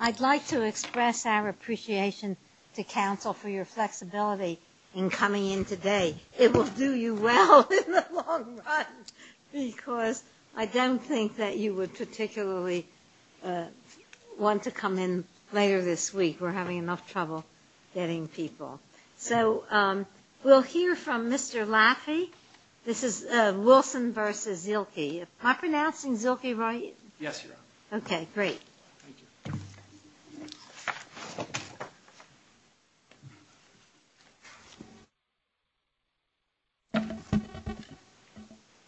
I'd like to express our appreciation to Council for your flexibility in coming in today. It will do you well in the long run because I don't think that you would particularly want to come in later this week. We're having enough trouble getting people. So we'll hear from Mr. Laffey. This is Wilson v. Zielke. Am I pronouncing Zielke right? Yes, Your Honor. Okay, great.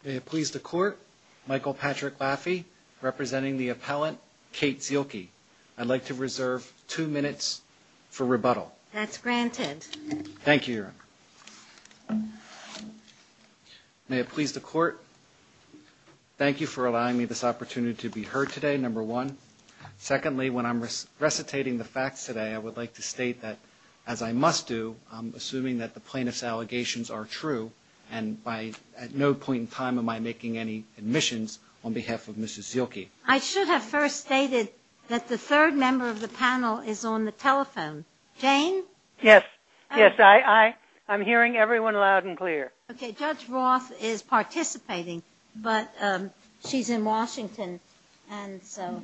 May it please the Court, Michael Patrick Laffey representing the appellant Kate Zielke. I'd like to reserve two minutes for rebuttal. That's granted. Thank you, Your Honor. May it please the Court, thank you for allowing me this opportunity to be heard today, number one. Secondly, when I'm recitating the facts today, I would like to state that, as I must do, I'm assuming that the plaintiff's allegations are true and at no point in time am I making any admissions on behalf of Mrs. Zielke. I should have first stated that the third member of the panel is on the telephone. Jane? Yes, yes, I'm hearing everyone loud and clear. Okay, Judge Roth is participating, but she's in Washington and so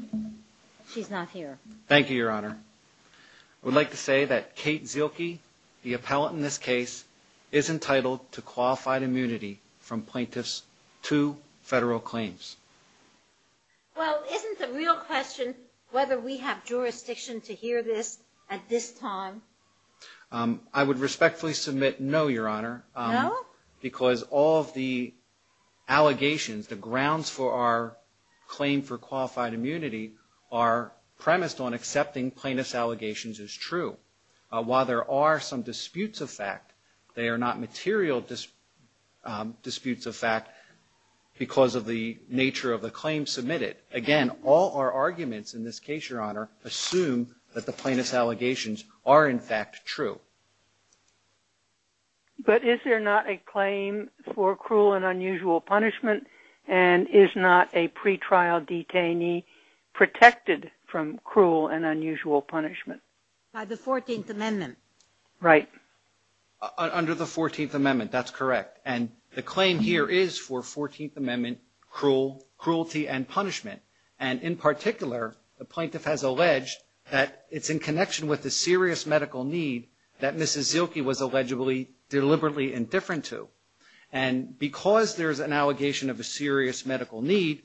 she's not here. Thank you, Your Honor. I would like to say that Kate Zielke, the appellant in this case, is entitled to qualified immunity from plaintiff's two federal claims. Well, isn't the real question whether we have jurisdiction to hear this at this time? I would respectfully submit no, Your Honor. No? Because all of the allegations, the grounds for our claim for qualified immunity are premised on accepting plaintiff's allegations as true. While there are some disputes of fact, they Again, all our arguments in this case, Your Honor, assume that the plaintiff's allegations are, in fact, true. But is there not a claim for cruel and unusual punishment and is not a pretrial detainee protected from cruel and unusual punishment? By the 14th Amendment. Right. Under the 14th Amendment, that's correct. And the claim here is for 14th Amendment cruelty and punishment. And in particular, the plaintiff has alleged that it's in connection with the serious medical need that Mrs. Zielke was allegedly deliberately indifferent to. And because there's an allegation of a serious medical need,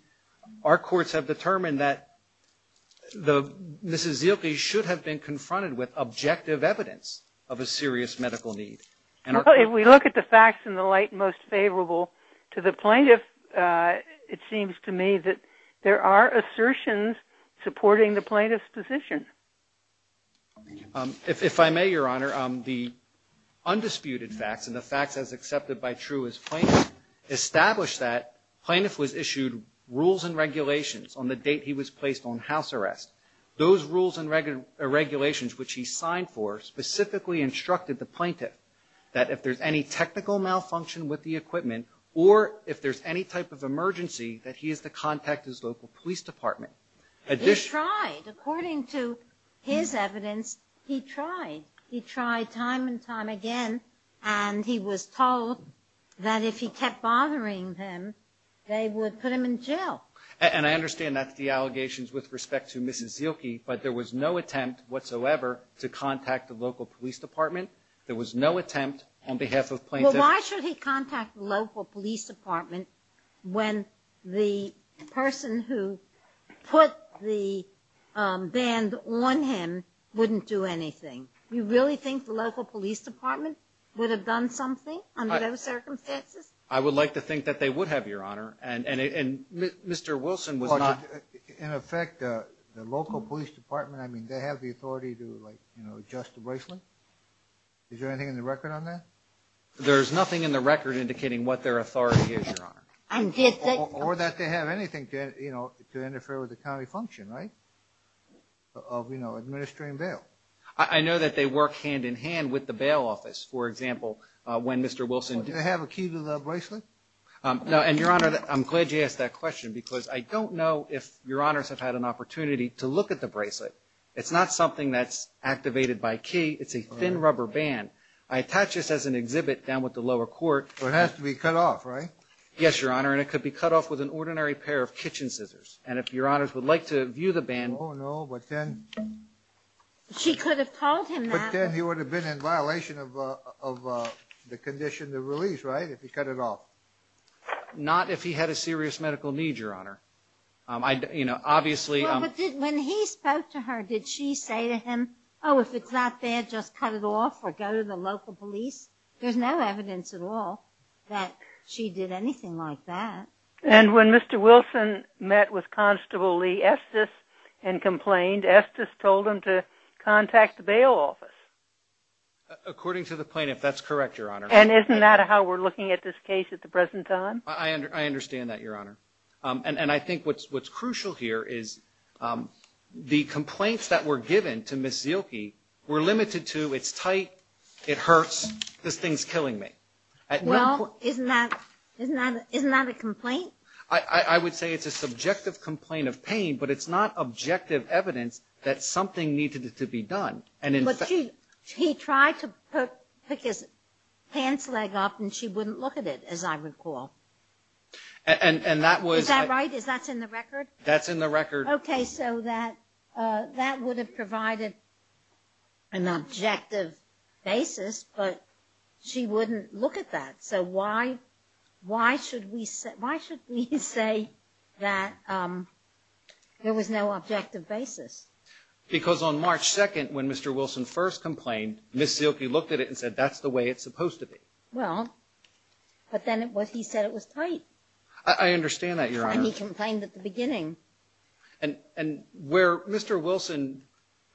our courts have determined that the Mrs. Zielke should have been confronted with objective evidence of a serious medical need. Well, if we look at the facts in the light most favorable to the plaintiff, it seems to me that there are assertions supporting the plaintiff's position. If I may, Your Honor, the undisputed facts and the facts as accepted by true as plaintiff establish that plaintiff was issued rules and regulations on the date he was placed on house arrest. Those rules and regulations which he signed for specifically instructed the plaintiff that if there's any technical malfunction with the equipment or if there's any type of emergency, that he is to contact his local police department. He tried. According to his evidence, he tried. He tried time and time again. And he was told that if he kept bothering them, they would put him in jail. And I understand that's the allegations with respect to Mrs. Zielke, but there was no attempt whatsoever to contact the local police department. There was no attempt on behalf of plaintiff. Well, why should he contact the local police department when the person who put the band on him wouldn't do anything? You really think the local police department would have done something under those circumstances? I would like to think that they would have, Your Honor. And Mr. Wilson was not... In effect, the local police department, I mean, they have the authority to adjust the bracelet? Is there anything in the record on that? There's nothing in the record indicating what their authority is, Your Honor. Or that they have anything to interfere with the county function, right? Of administering bail. I know that they work hand in hand with the bail office. For example, when Mr. Wilson... Did they have a key to the bracelet? No, and Your Honor, I'm glad you asked that question because I don't know if Your Honors have had an opportunity to look at the bracelet. It's not something that's activated by key. It's a thin rubber band. I attach this as an exhibit down with the lower court. So it has to be cut off, right? Yes, Your Honor, and it could be cut off with an ordinary pair of kitchen scissors. And if Your Honors would like to view the band... Oh, no, but then... She could have told him that. But then he would have been in violation of the condition of release, right, if he cut it off? Not if he had a serious medical need, Your Honor. I, you know, obviously... But when he spoke to her, did she say to him, oh, if it's not there, just cut it off or go to the local police? There's no evidence at all that she did anything like that. And when Mr. Wilson met with Constable Lee Estes and complained, Estes told him to contact the bail office. According to the plaintiff, that's correct, Your Honor. And isn't that how we're looking at this case at the present time? I understand that, Your Honor. And I think what's crucial here is the complaints that were given to Ms. Zielke were limited to, it's tight, it hurts, this thing's killing me. Well, isn't that a complaint? I would say it's a subjective complaint of pain, but it's not objective evidence that something needed to be done. But she tried to pick his pants leg up and she wouldn't look at it, as I recall. And that was... Is that right? Is that in the record? That's in the record. Okay, so that would have provided an objective basis, but she wouldn't look at that. So why should we say that there was no objective basis? Because on March 2nd, when Mr. Wilson first complained, Ms. Zielke looked at it and said that's the way it's supposed to be. Well, but then he said it was tight. I understand that, Your Honor. And he complained at the beginning. And where Mr. Wilson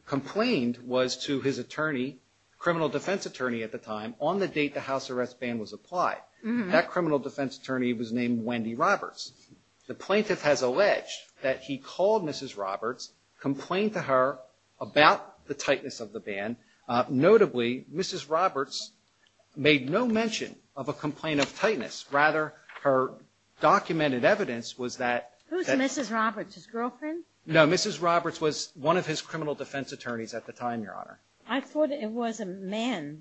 complained was to his attorney, criminal defense attorney at the time, on the date the house arrest ban was applied. That criminal defense attorney was named Wendy Roberts. The plaintiff has alleged that he called Mrs. Roberts, complained to her about the tightness of the ban. Notably, Mrs. Roberts made no mention of a complaint of tightness. Rather, her documented evidence was that... Who's Mrs. Roberts? His girlfriend? No, Mrs. Roberts was one of his criminal defense attorneys at the time, Your Honor. I thought it was a man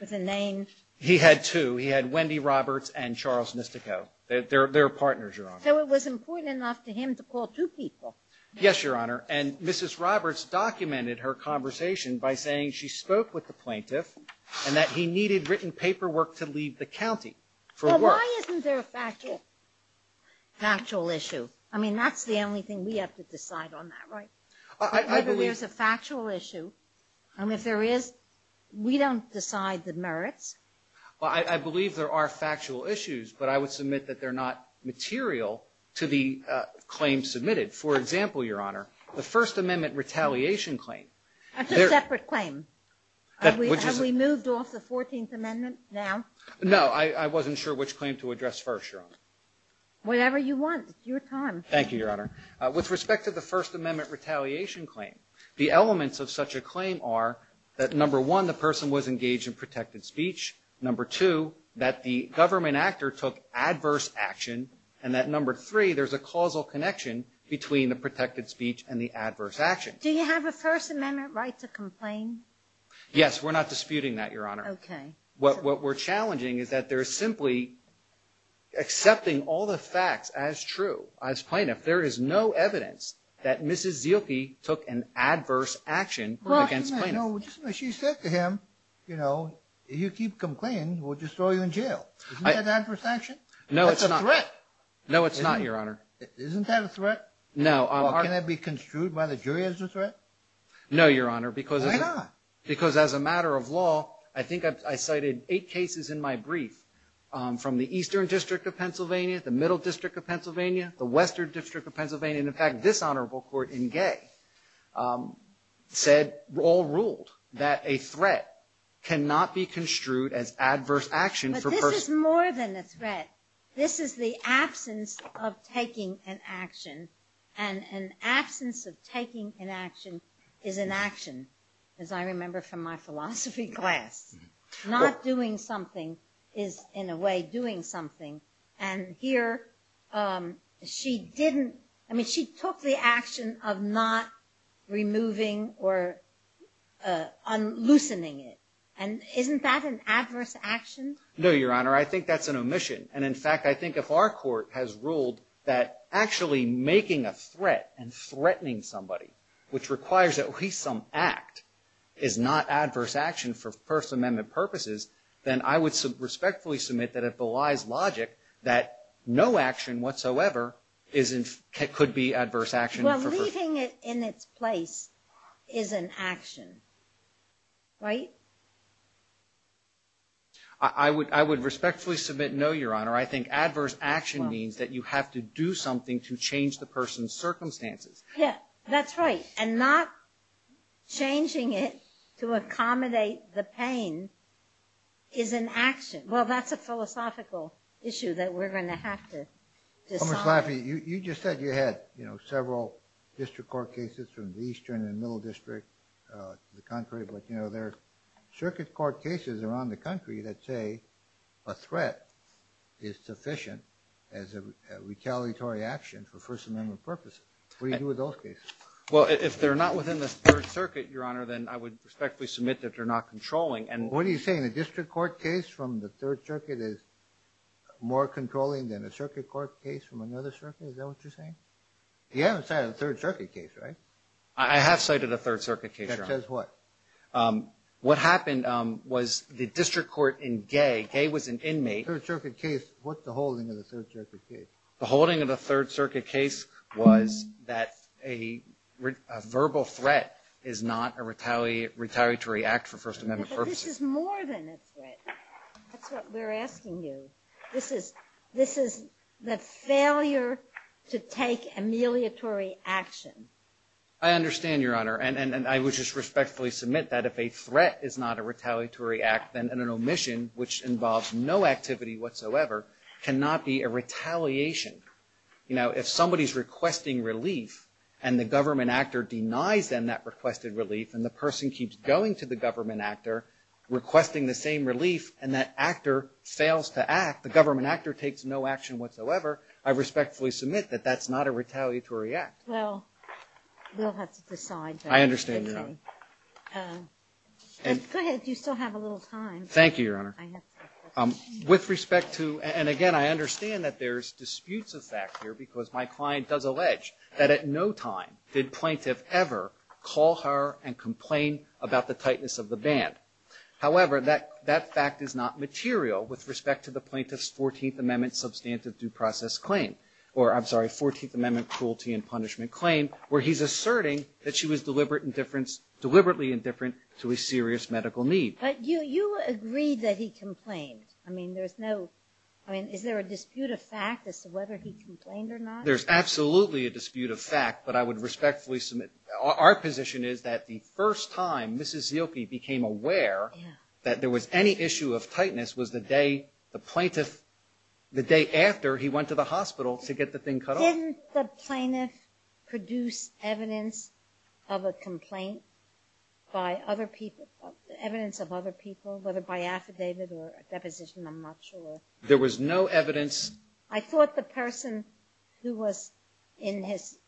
with a name. He had two. He had Wendy Roberts and Charles Mystico. They're partners, Your Honor. So it was important enough to him to call two people. Yes, Your Honor. And Mrs. Roberts documented her conversation by saying she spoke with the plaintiff and that he needed written paperwork to leave the county for work. Well, why isn't there a factual issue? I mean, that's the only thing we have to decide on that, right? I believe... We don't decide the merits. Well, I believe there are factual issues, but I would submit that they're not material to the claim submitted. For example, Your Honor, the First Amendment retaliation claim... That's a separate claim. Have we moved off the 14th Amendment now? No, I wasn't sure which claim to address first, Your Honor. Whatever you want. It's your time. Thank you, Your Honor. With respect to the First Amendment retaliation claim, the elements of such a claim are that, number one, the person was engaged in protected speech, number two, that the government actor took adverse action, and that, number three, there's a causal connection between the protected speech and the adverse action. Do you have a First Amendment right to complain? Yes, we're not disputing that, Your Honor. Okay. What we're challenging is that there's simply accepting all the facts as true, as plaintiff. There is no evidence that Mrs. Zielke took an adverse action against plaintiff. Well, she said to him, you know, if you keep complaining, we'll just throw you in jail. Isn't that adverse action? No, it's not. That's a threat. No, it's not, Your Honor. Isn't that a threat? No. Can that be construed by the jury as a threat? No, Your Honor. Why not? Because as a matter of law, I think I cited eight cases in my brief from the Eastern District of Pennsylvania, the Middle District of Pennsylvania, the Western District of Pennsylvania, and in fact, this Honorable Court in Gay said, all ruled, that a threat cannot be construed as adverse action for persons. But this is more than a threat. This is the absence of taking an action, and an absence of taking an action is an action, as I remember from my philosophy class. Not doing something is, in a way, doing something. And here, she didn't, I mean, she took the action of not removing or loosening it. And isn't that an adverse action? No, Your Honor. I think that's an omission. And in fact, I think if our court has ruled that actually making a threat and threatening somebody, which requires at least some act, is not adverse action for First Amendment purposes, then I would respectfully submit that it belies logic that no action whatsoever could be adverse action. Well, leaving it in its place is an action, right? I would respectfully submit no, Your Honor. I think adverse action means that you have to do something to change the person's circumstances. Yeah, that's right. And not changing it to accommodate the pain is an action. Well, that's a philosophical issue that we're going to have to decide. Commerce Laffey, you just said you had, you know, several district court cases from the Eastern and Middle District of the country. But, you know, there are circuit court cases around the country that say a threat is sufficient as a retaliatory action for First Amendment purposes. What do you do with those cases? Well, if they're not within the Third Circuit, Your Honor, then I would respectfully submit that they're not controlling. What are you saying? A district court case from the Third Circuit is more controlling than a circuit court case from another circuit? Is that what you're saying? You haven't cited a Third Circuit case, right? I have cited a Third Circuit case, Your Honor. That says what? What happened was the district court in Gaye. Gaye was an inmate. Third Circuit case. What's the holding of the Third Circuit case? The holding of the Third Circuit case was that a verbal threat is not a retaliatory act for First Amendment purposes. But this is more than a threat. That's what we're asking you. This is the failure to take amelioratory action. I understand, Your Honor. And I would just respectfully submit that if a threat is not a retaliatory act, then an omission, which involves no activity whatsoever, cannot be a retaliation. You know, if somebody's requesting relief, and the government actor denies them that requested relief, and the person keeps going to the government actor requesting the same relief, and that actor fails to act, the government actor takes no action whatsoever, I respectfully submit that that's not a retaliatory act. Well, we'll have to decide that. I understand, Your Honor. Go ahead. You still have a little time. Thank you, Your Honor. I have some questions. With respect to, and, again, I understand that there's disputes of fact here, because my client does allege that at no time did plaintiff ever call her and complain about the tightness of the band. However, that fact is not material with respect to the plaintiff's 14th Amendment substantive due process claim, or, I'm sorry, 14th Amendment cruelty and punishment claim, where he's asserting that she was deliberately indifferent to a serious medical need. But you agreed that he complained. I mean, there's no – I mean, is there a dispute of fact as to whether he complained or not? There's absolutely a dispute of fact, but I would respectfully submit – our position is that the first time Mrs. Zielke became aware that there was any issue of tightness was the day the plaintiff – the day after he went to the hospital to get the thing cut off. Didn't the plaintiff produce evidence of a complaint by other people – evidence of other people, whether by affidavit or a deposition? I'm not sure. There was no evidence. I thought the person who was in his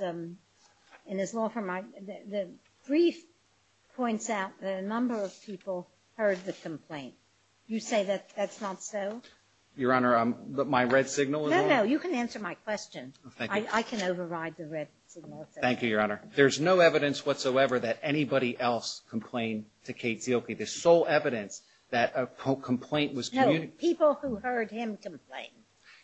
law firm – the brief points out that a number of people heard the complaint. You say that that's not so? Your Honor, my red signal is on. No, no, you can answer my question. I can override the red signal. Thank you, Your Honor. There's no evidence whatsoever that anybody else complained to Kate Zielke. The sole evidence that a complaint was – No, people who heard him complain.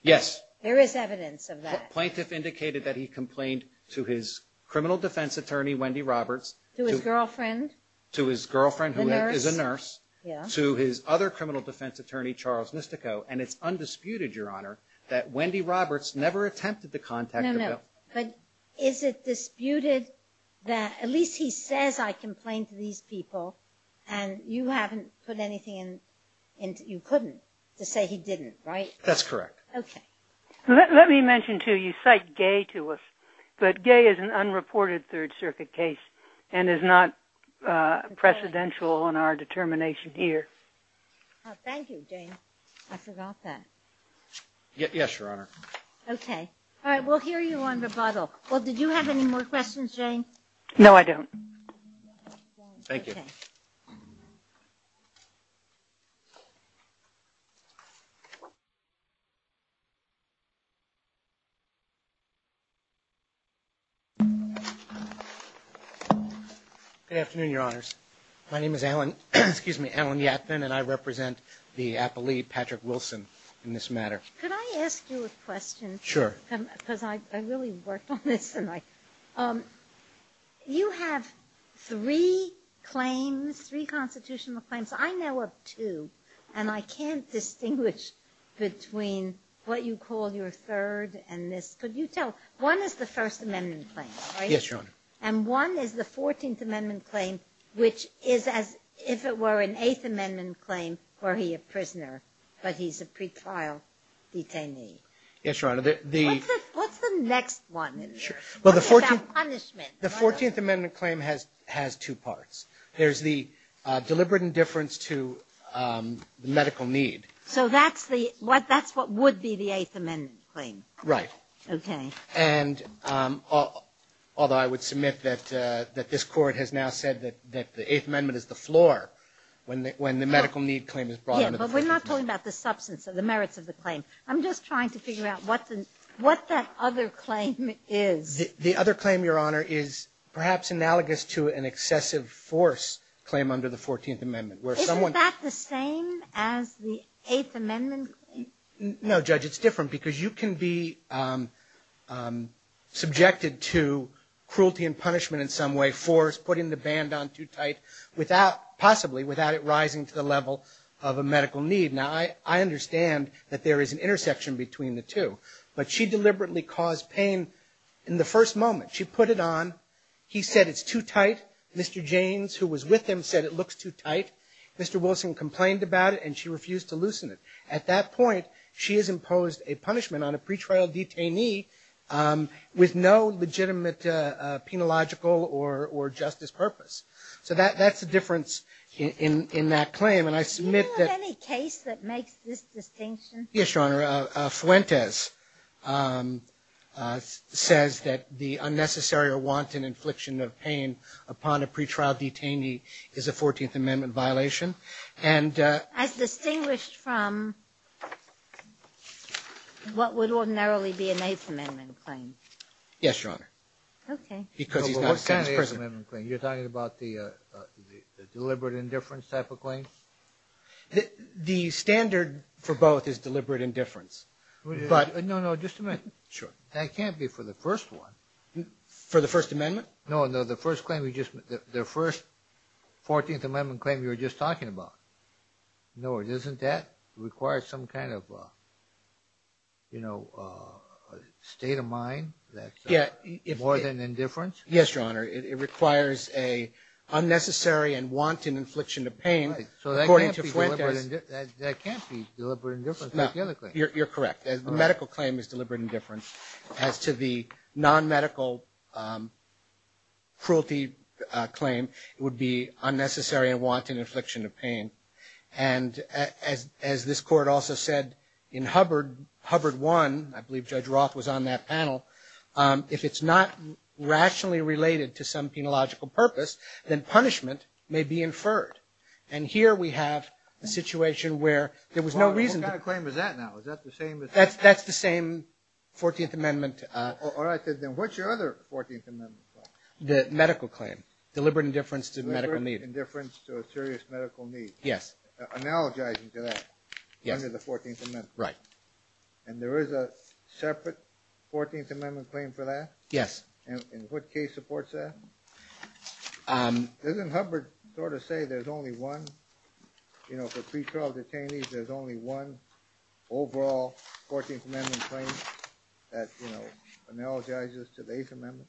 Yes. There is evidence of that. The plaintiff indicated that he complained to his criminal defense attorney, Wendy Roberts. To his girlfriend. To his girlfriend, who is a nurse. Yeah. To his other criminal defense attorney, Charles Nistico. And it's undisputed, Your Honor, that Wendy Roberts never attempted to contact him. No, no. But is it disputed that at least he says, I complained to these people, and you haven't put anything in – you couldn't to say he didn't, right? That's correct. Okay. Let me mention, too, you cite Gay to us. But Gay is an unreported Third Circuit case and is not precedential in our determination here. Thank you, James. I forgot that. Yes, Your Honor. Okay. All right, we'll hear you on rebuttal. Well, did you have any more questions, Jane? No, I don't. Thank you. Okay. Good afternoon, Your Honors. My name is Alan – excuse me – Alan Yatvin, and I represent the appellee, Patrick Wilson, in this matter. Could I ask you a question? Sure. Because I really worked on this, and I – you have three claims, three constitutional claims. I know of two, and I can't distinguish between what you call your third and this. Could you tell? One is the First Amendment claim, right? Yes, Your Honor. And one is the Fourteenth Amendment claim, which is as if it were an Eighth Amendment claim where he a prisoner, but he's a pretrial detainee. Yes, Your Honor. What's the next one? Well, the Fourteenth – What about punishment? The Fourteenth Amendment claim has two parts. There's the deliberate indifference to the medical need. So that's the – that's what would be the Eighth Amendment claim. Right. Okay. And although I would submit that this Court has now said that the Eighth Amendment is the floor when the medical need claim is brought under the Fourteenth Amendment. Yeah, but we're not talking about the substance of the merits of the claim. I'm just trying to figure out what the – what that other claim is. The other claim, Your Honor, is perhaps analogous to an excessive force claim under the Fourteenth Amendment where someone – Isn't that the same as the Eighth Amendment claim? No, Judge. It's different because you can be subjected to cruelty and punishment in some way, force, putting the band on too tight without – possibly without it rising to the level of a medical need. Now, I understand that there is an intersection between the two, but she deliberately caused pain in the first moment. She put it on. He said it's too tight. Mr. Janes, who was with him, said it looks too tight. Mr. Wilson complained about it, and she refused to loosen it. At that point, she has imposed a punishment on a pretrial detainee with no legitimate penological or justice purpose. So that's the difference in that claim, and I submit that – Do you know of any case that makes this distinction? Yes, Your Honor. Fuentes says that the unnecessary or wanton infliction of pain upon a pretrial detainee is a Fourteenth Amendment violation. As distinguished from what would ordinarily be an Eighth Amendment claim? Yes, Your Honor. Okay. What kind of Eighth Amendment claim? You're talking about the deliberate indifference type of claim? The standard for both is deliberate indifference, but – No, no, just a minute. Sure. That can't be for the first one. For the First Amendment? No, no. The First Amendment claim you were just talking about. No, it isn't that. It requires some kind of, you know, state of mind that's more than indifference. Yes, Your Honor. It requires an unnecessary and wanton infliction of pain, according to Fuentes. That can't be deliberate indifference. You're correct. The medical claim is deliberate indifference. As to the non-medical cruelty claim, it would be unnecessary and wanton infliction of pain. And as this Court also said in Hubbard 1, I believe Judge Roth was on that panel, if it's not rationally related to some penological purpose, then punishment may be inferred. And here we have a situation where there was no reason to – That's the same 14th Amendment – All right, then what's your other 14th Amendment claim? The medical claim, deliberate indifference to medical need. Deliberate indifference to a serious medical need. Yes. Analogizing to that under the 14th Amendment. Right. And there is a separate 14th Amendment claim for that? Yes. And what case supports that? Doesn't Hubbard sort of say there's only one, you know, for pre-trial detainees, there's only one overall 14th Amendment claim that, you know, analogizes to the 8th Amendment?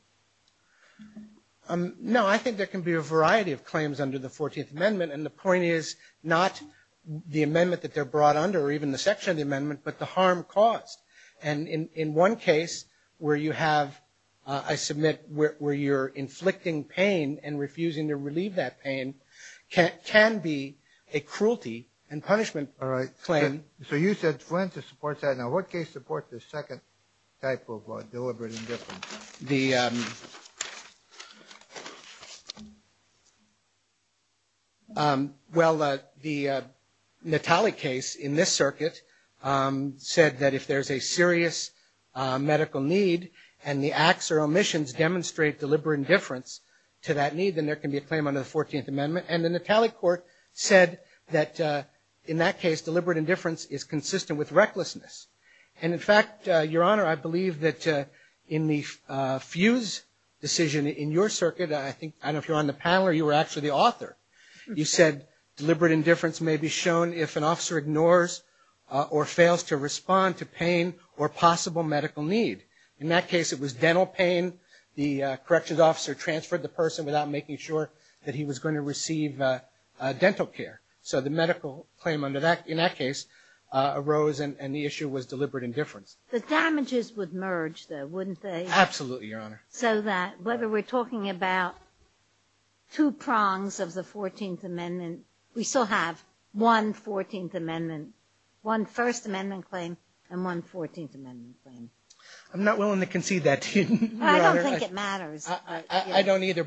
No, I think there can be a variety of claims under the 14th Amendment, and the point is not the amendment that they're brought under or even the section of the amendment, but the harm caused. And in one case where you have – I submit where you're inflicting pain and refusing to relieve that pain can be a cruelty and punishment claim. All right. So you said Flint supports that. Now, what case supports the second type of deliberate indifference? Well, the Natale case in this circuit said that if there's a serious medical need and the acts or omissions demonstrate deliberate indifference to that need, then there can be a claim under the 14th Amendment. And the Natale court said that in that case deliberate indifference is consistent with recklessness. And, in fact, Your Honor, I believe that in the Fuse decision in your circuit, I don't know if you're on the panel or you were actually the author, you said deliberate indifference may be shown if an officer ignores or fails to respond to pain or possible medical need. In that case it was dental pain. The corrections officer transferred the person without making sure that he was going to receive dental care. So the medical claim in that case arose and the issue was deliberate indifference. The damages would merge, though, wouldn't they? Absolutely, Your Honor. So that whether we're talking about two prongs of the 14th Amendment, we still have one 14th Amendment, one First Amendment claim, and one 14th Amendment claim. I'm not willing to concede that to you, Your Honor. I don't think it matters. I don't either.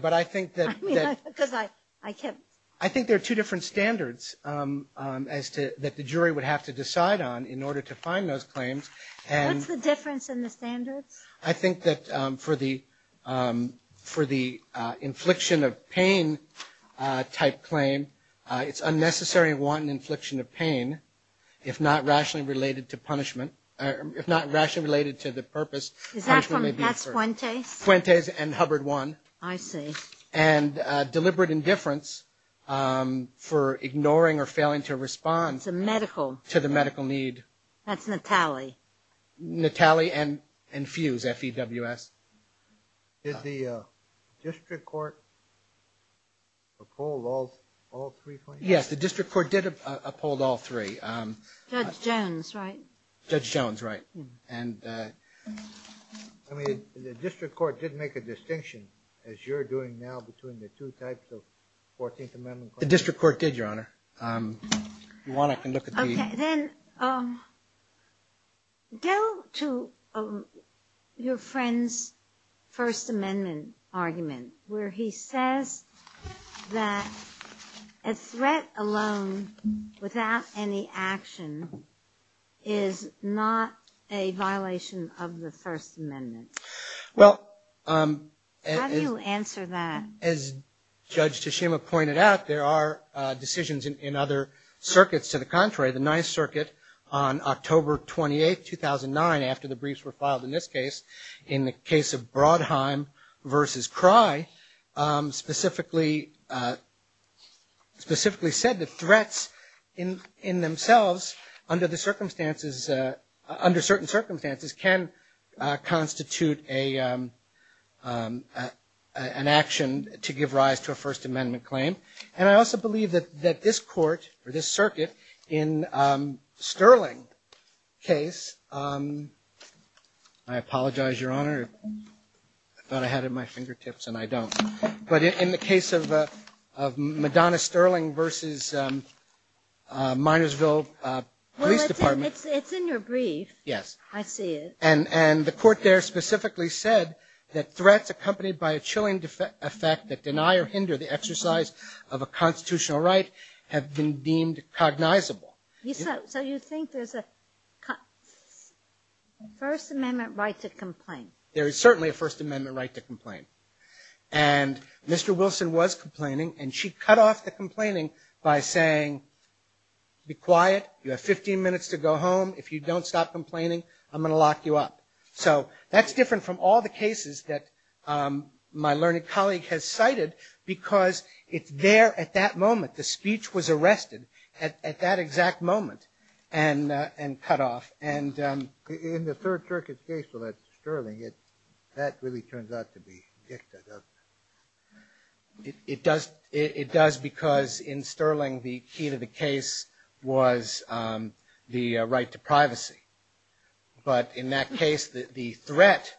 I think there are two different standards that the jury would have to decide on in order to find those claims. What's the difference in the standards? I think that for the infliction of pain-type claim, it's unnecessary to want an infliction of pain if not rationally related to the purpose. Is that from Pat Fuentes? Fuentes and Hubbard won. I see. And deliberate indifference for ignoring or failing to respond. It's a medical. To the medical need. That's Natale. Natale and Fuse, F-E-W-S. Did the district court uphold all three claims? Yes, the district court did uphold all three. Judge Jones, right? Judge Jones, right. I mean, the district court did make a distinction, as you're doing now, between the two types of 14th Amendment claims. The district court did, Your Honor. If you want, I can look at the... Okay. Then go to your friend's First Amendment argument, where he says that a threat alone, without any action, is not a violation of the First Amendment. Well... How do you answer that? As Judge Teshima pointed out, there are decisions in other circuits. To the contrary, the Ninth Circuit on October 28, 2009, after the briefs were filed in this case, in the case of Brodheim v. Crye, specifically said that threats in themselves, under certain circumstances, can constitute an action to give rise to a First Amendment claim. And I also believe that this court, or this circuit, in Sterling's case... I apologize, Your Honor. I thought I had it at my fingertips, and I don't. But in the case of Madonna-Sterling v. Minersville Police Department... Well, it's in your brief. Yes. I see it. And the court there specifically said that threats accompanied by a chilling effect that deny or hinder the exercise of a constitutional right have been deemed cognizable. So you think there's a First Amendment right to complain? There is certainly a First Amendment right to complain. And Mr. Wilson was complaining, and she cut off the complaining by saying, Be quiet. You have 15 minutes to go home. If you don't stop complaining, I'm going to lock you up. So that's different from all the cases that my learned colleague has cited, because it's there at that moment. The speech was arrested at that exact moment and cut off. In the Third Circuit case with Sterling, that really turns out to be dicta, doesn't it? It does, because in Sterling the key to the case was the right to privacy. But in that case, the threat,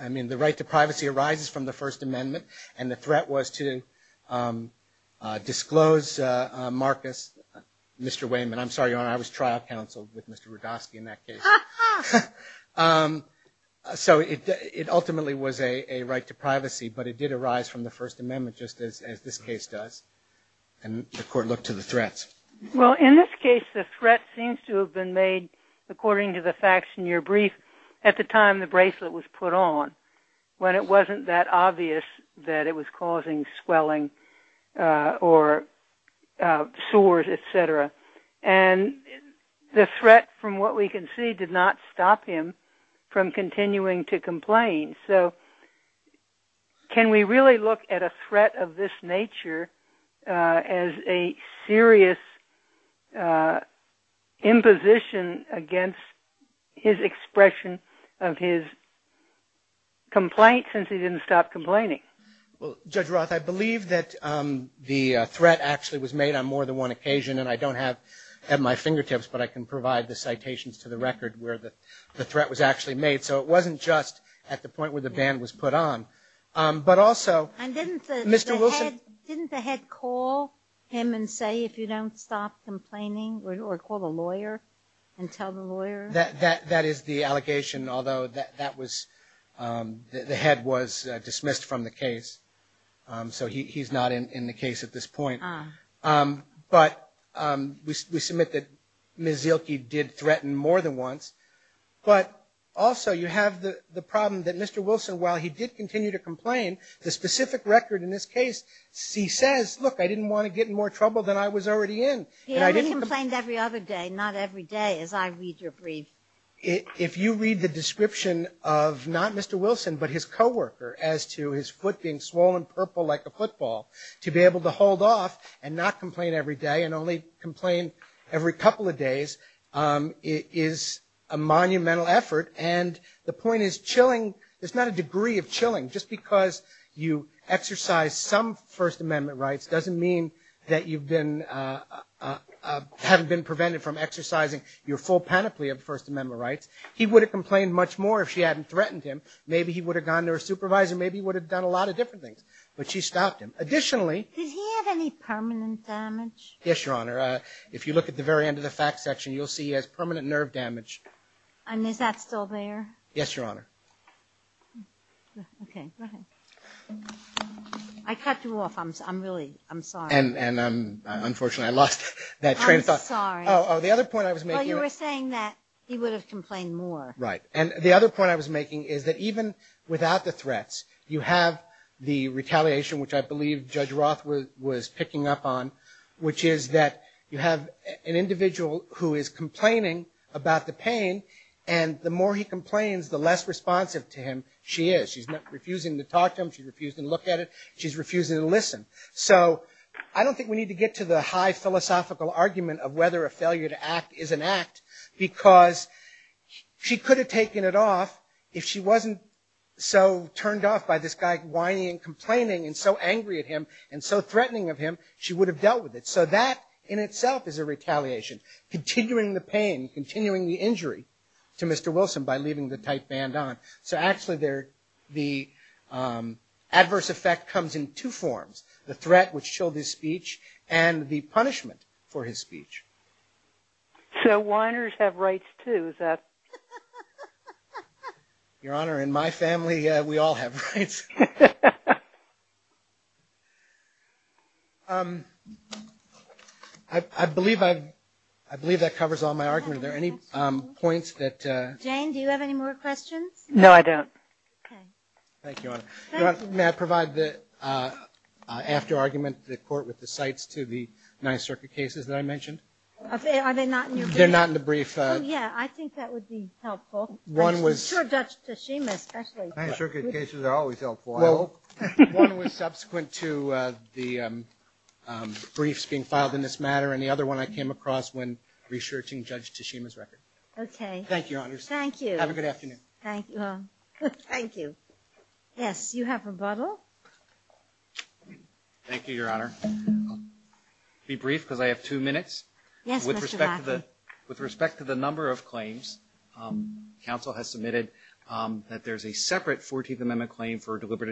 I mean, the right to privacy arises from the First Amendment, and the threat was to disclose Marcus, Mr. Wayman. I'm sorry, Your Honor, I was trial counsel with Mr. Rudofsky in that case. So it ultimately was a right to privacy, but it did arise from the First Amendment just as this case does. And the court looked to the threats. Well, in this case, the threat seems to have been made, according to the facts in your brief, at the time the bracelet was put on, when it wasn't that obvious that it was causing swelling or sores, et cetera. And the threat, from what we can see, did not stop him from continuing to complain. So can we really look at a threat of this nature as a serious imposition against his expression of his complaint, since he didn't stop complaining? Well, Judge Roth, I believe that the threat actually was made on more than one occasion, and I don't have at my fingertips, but I can provide the citations to the record where the threat was actually made. So it wasn't just at the point where the band was put on, but also Mr. Wilson. Didn't the head call him and say, if you don't stop complaining, or call the lawyer and tell the lawyer? That is the allegation, although the head was dismissed from the case. So he's not in the case at this point. But we submit that Ms. Zielke did threaten more than once. But also you have the problem that Mr. Wilson, while he did continue to complain, the specific record in this case, he says, look, I didn't want to get in more trouble than I was already in. He only complained every other day, not every day, as I read your brief. If you read the description of not Mr. Wilson, but his co-worker, as to his foot being swollen purple like a football, to be able to hold off and not complain every day and only complain every couple of days is a monumental effort. And the point is chilling, there's not a degree of chilling. Just because you exercise some First Amendment rights doesn't mean that you've been, haven't been prevented from exercising your full panoply of First Amendment rights. He would have complained much more if she hadn't threatened him. Maybe he would have gone to her supervisor. Maybe he would have done a lot of different things. But she stopped him. Additionally, Does he have any permanent damage? Yes, Your Honor. If you look at the very end of the facts section, you'll see he has permanent nerve damage. And is that still there? Yes, Your Honor. Okay, go ahead. I cut you off. I'm really, I'm sorry. And unfortunately I lost that train of thought. I'm sorry. Oh, the other point I was making. Well, you were saying that he would have complained more. Right. And the other point I was making is that even without the threats, you have the retaliation which I believe Judge Roth was picking up on, which is that you have an individual who is complaining about the pain, and the more he complains, the less responsive to him she is. She's refusing to talk to him. She's refusing to look at it. She's refusing to listen. So I don't think we need to get to the high philosophical argument of whether a failure to act is an act, because she could have taken it off if she wasn't so turned off by this guy whining and complaining and so angry at him and so threatening of him, she would have dealt with it. So that in itself is a retaliation. Continuing the pain, continuing the injury to Mr. Wilson by leaving the tight band on. So actually the adverse effect comes in two forms, the threat which chilled his speech and the punishment for his speech. So whiners have rights too, is that? Your Honor, in my family we all have rights. I believe that covers all my argument. Are there any points that ‑‑ Jane, do you have any more questions? No, I don't. Okay. Thank you, Your Honor. Thank you. May I provide the after argument to the court with the cites to the Ninth Circuit cases that I mentioned? Are they not in your brief? They're not in the brief. Oh, yeah, I think that would be helpful. I'm sure Judge Tashima especially. Ninth Circuit cases are always helpful, I hope. One was subsequent to the briefs being filed in this matter and the other one I came across when researching Judge Tashima's record. Okay. Thank you, Your Honor. Thank you. Have a good afternoon. Thank you. Yes, you have rebuttal. Thank you, Your Honor. I'll be brief because I have two minutes. Yes, Mr. Black. With respect to the number of claims, counsel has submitted that there's a separate 14th Amendment claim for deliberate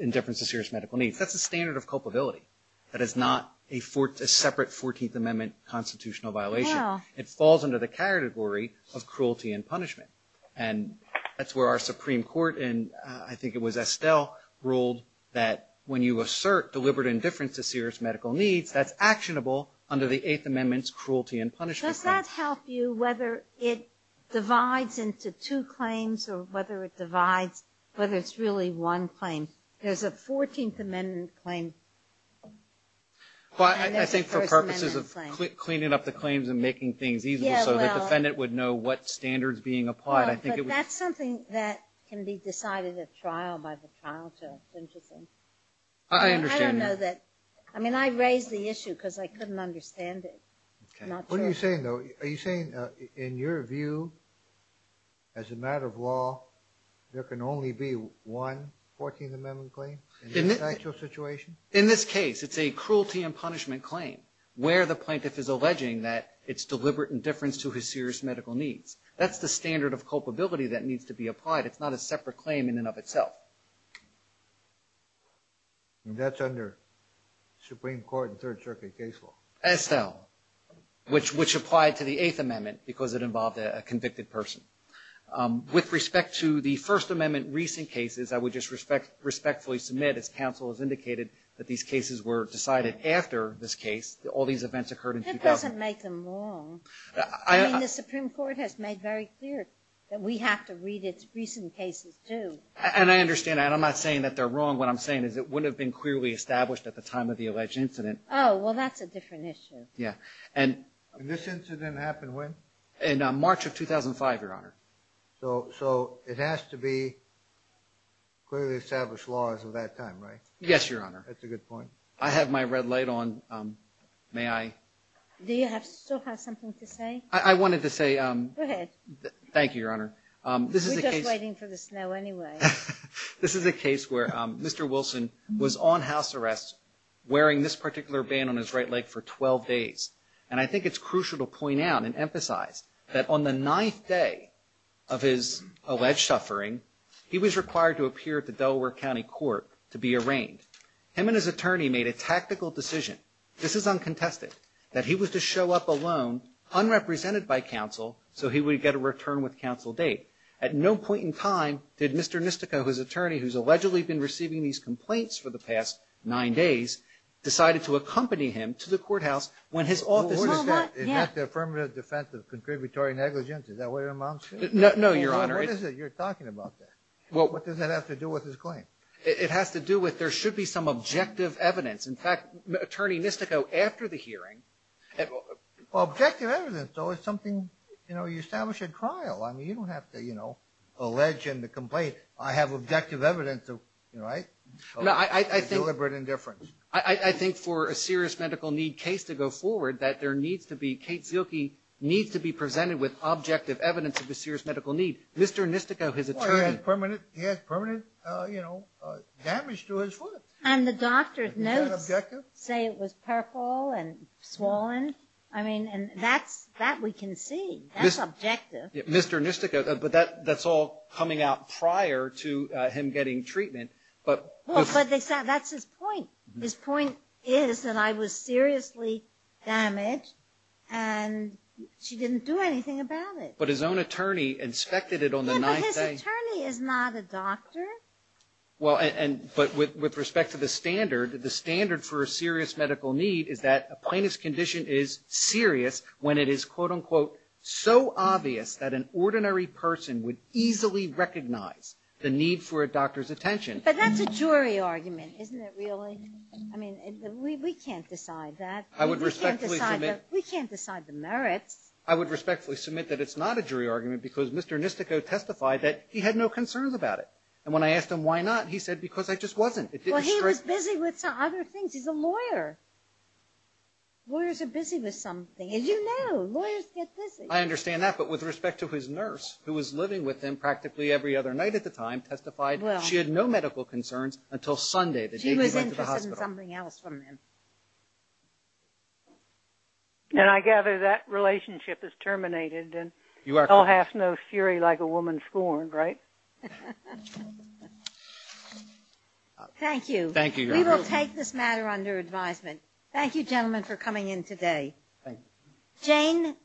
indifference to serious medical needs. That's a standard of culpability. That is not a separate 14th Amendment constitutional violation. It falls under the category of cruelty and punishment, and that's where our Supreme Court, and I think it was Estelle, ruled that when you assert deliberate indifference to serious medical needs, that's actionable under the Eighth Amendment's cruelty and punishment. Does that help you whether it divides into two claims or whether it divides whether it's really one claim? There's a 14th Amendment claim. I think for purposes of cleaning up the claims and making things easier so the defendant would know what standard is being applied. That's something that can be decided at trial by the trial judge. It's interesting. I understand. I raised the issue because I couldn't understand it. What are you saying, though? Are you saying in your view, as a matter of law, there can only be one 14th Amendment claim in this actual situation? In this case, it's a cruelty and punishment claim where the plaintiff is alleging that it's deliberate indifference to his serious medical needs. That's the standard of culpability that needs to be applied. It's not a separate claim in and of itself. That's under Supreme Court and Third Circuit case law. SL, which applied to the Eighth Amendment because it involved a convicted person. With respect to the First Amendment recent cases, I would just respectfully submit, as counsel has indicated, that these cases were decided after this case. All these events occurred in 2000. That doesn't make them wrong. I mean, the Supreme Court has made very clear that we have to read its recent cases, too. And I understand that. I'm not saying that they're wrong. What I'm saying is it wouldn't have been clearly established at the time of the alleged incident. Oh, well, that's a different issue. Yeah. And this incident happened when? In March of 2005, Your Honor. So it has to be clearly established laws of that time, right? Yes, Your Honor. That's a good point. I have my red light on. May I? Do you still have something to say? I wanted to say... Go ahead. Thank you, Your Honor. We're just waiting for the snow anyway. This is a case where Mr. Wilson was on house arrest wearing this particular band on his right leg for 12 days. And I think it's crucial to point out and emphasize that on the ninth day of his alleged suffering, he was required to appear at the Delaware County Court to be arraigned. Him and his attorney made a tactical decision. This is uncontested. That he was to show up alone, unrepresented by counsel, so he would get a return-with-counsel date. At no point in time did Mr. Nistico, his attorney who's allegedly been receiving these complaints for the past nine days, decided to accompany him to the courthouse when his office... Well, what is that? Isn't that the affirmative defense of contributory negligence? Is that what it amounts to? No, Your Honor. What is it? You're talking about that. What does that have to do with his claim? It has to do with there should be some objective evidence. In fact, Attorney Nistico, after the hearing... Objective evidence, though, is something you establish at trial. You don't have to allege and to complain. I have objective evidence of deliberate indifference. I think for a serious medical need case to go forward, that there needs to be, Kate Zielke needs to be presented with objective evidence of a serious medical need. Mr. Nistico, his attorney... He has permanent damage to his foot. And the doctor's notes say it was purple and swollen. I mean, that we can see. That's objective. Mr. Nistico, but that's all coming out prior to him getting treatment. Well, but that's his point. His point is that I was seriously damaged, and she didn't do anything about it. But his own attorney inspected it on the ninth day. Yeah, but his attorney is not a doctor. Well, but with respect to the standard, the standard for a serious medical need is that a plaintiff's condition is serious when it is, quote, unquote, so obvious that an ordinary person would easily recognize the need for a doctor's attention. But that's a jury argument, isn't it, really? I mean, we can't decide that. I would respectfully submit... We can't decide the merits. I would respectfully submit that it's not a jury argument because Mr. Nistico testified that he had no concerns about it. And when I asked him why not, he said, because I just wasn't. Well, he was busy with some other things. He's a lawyer. Lawyers are busy with some things. You know, lawyers get busy. I understand that, but with respect to his nurse, who was living with him practically every other night at the time, testified she had no medical concerns until Sunday, the day he went to the hospital. She was interested in something else from him. And I gather that relationship is terminated, and they'll have no fury like a woman scorned, right? Thank you. We will take this matter under advisement. Thank you, gentlemen, for coming in today. Jane,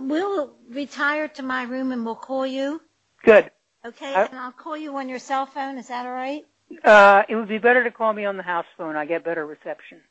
we'll retire to my room and we'll call you. Good. Okay, and I'll call you on your cell phone. Is that all right? It would be better to call me on the house phone. I get better reception.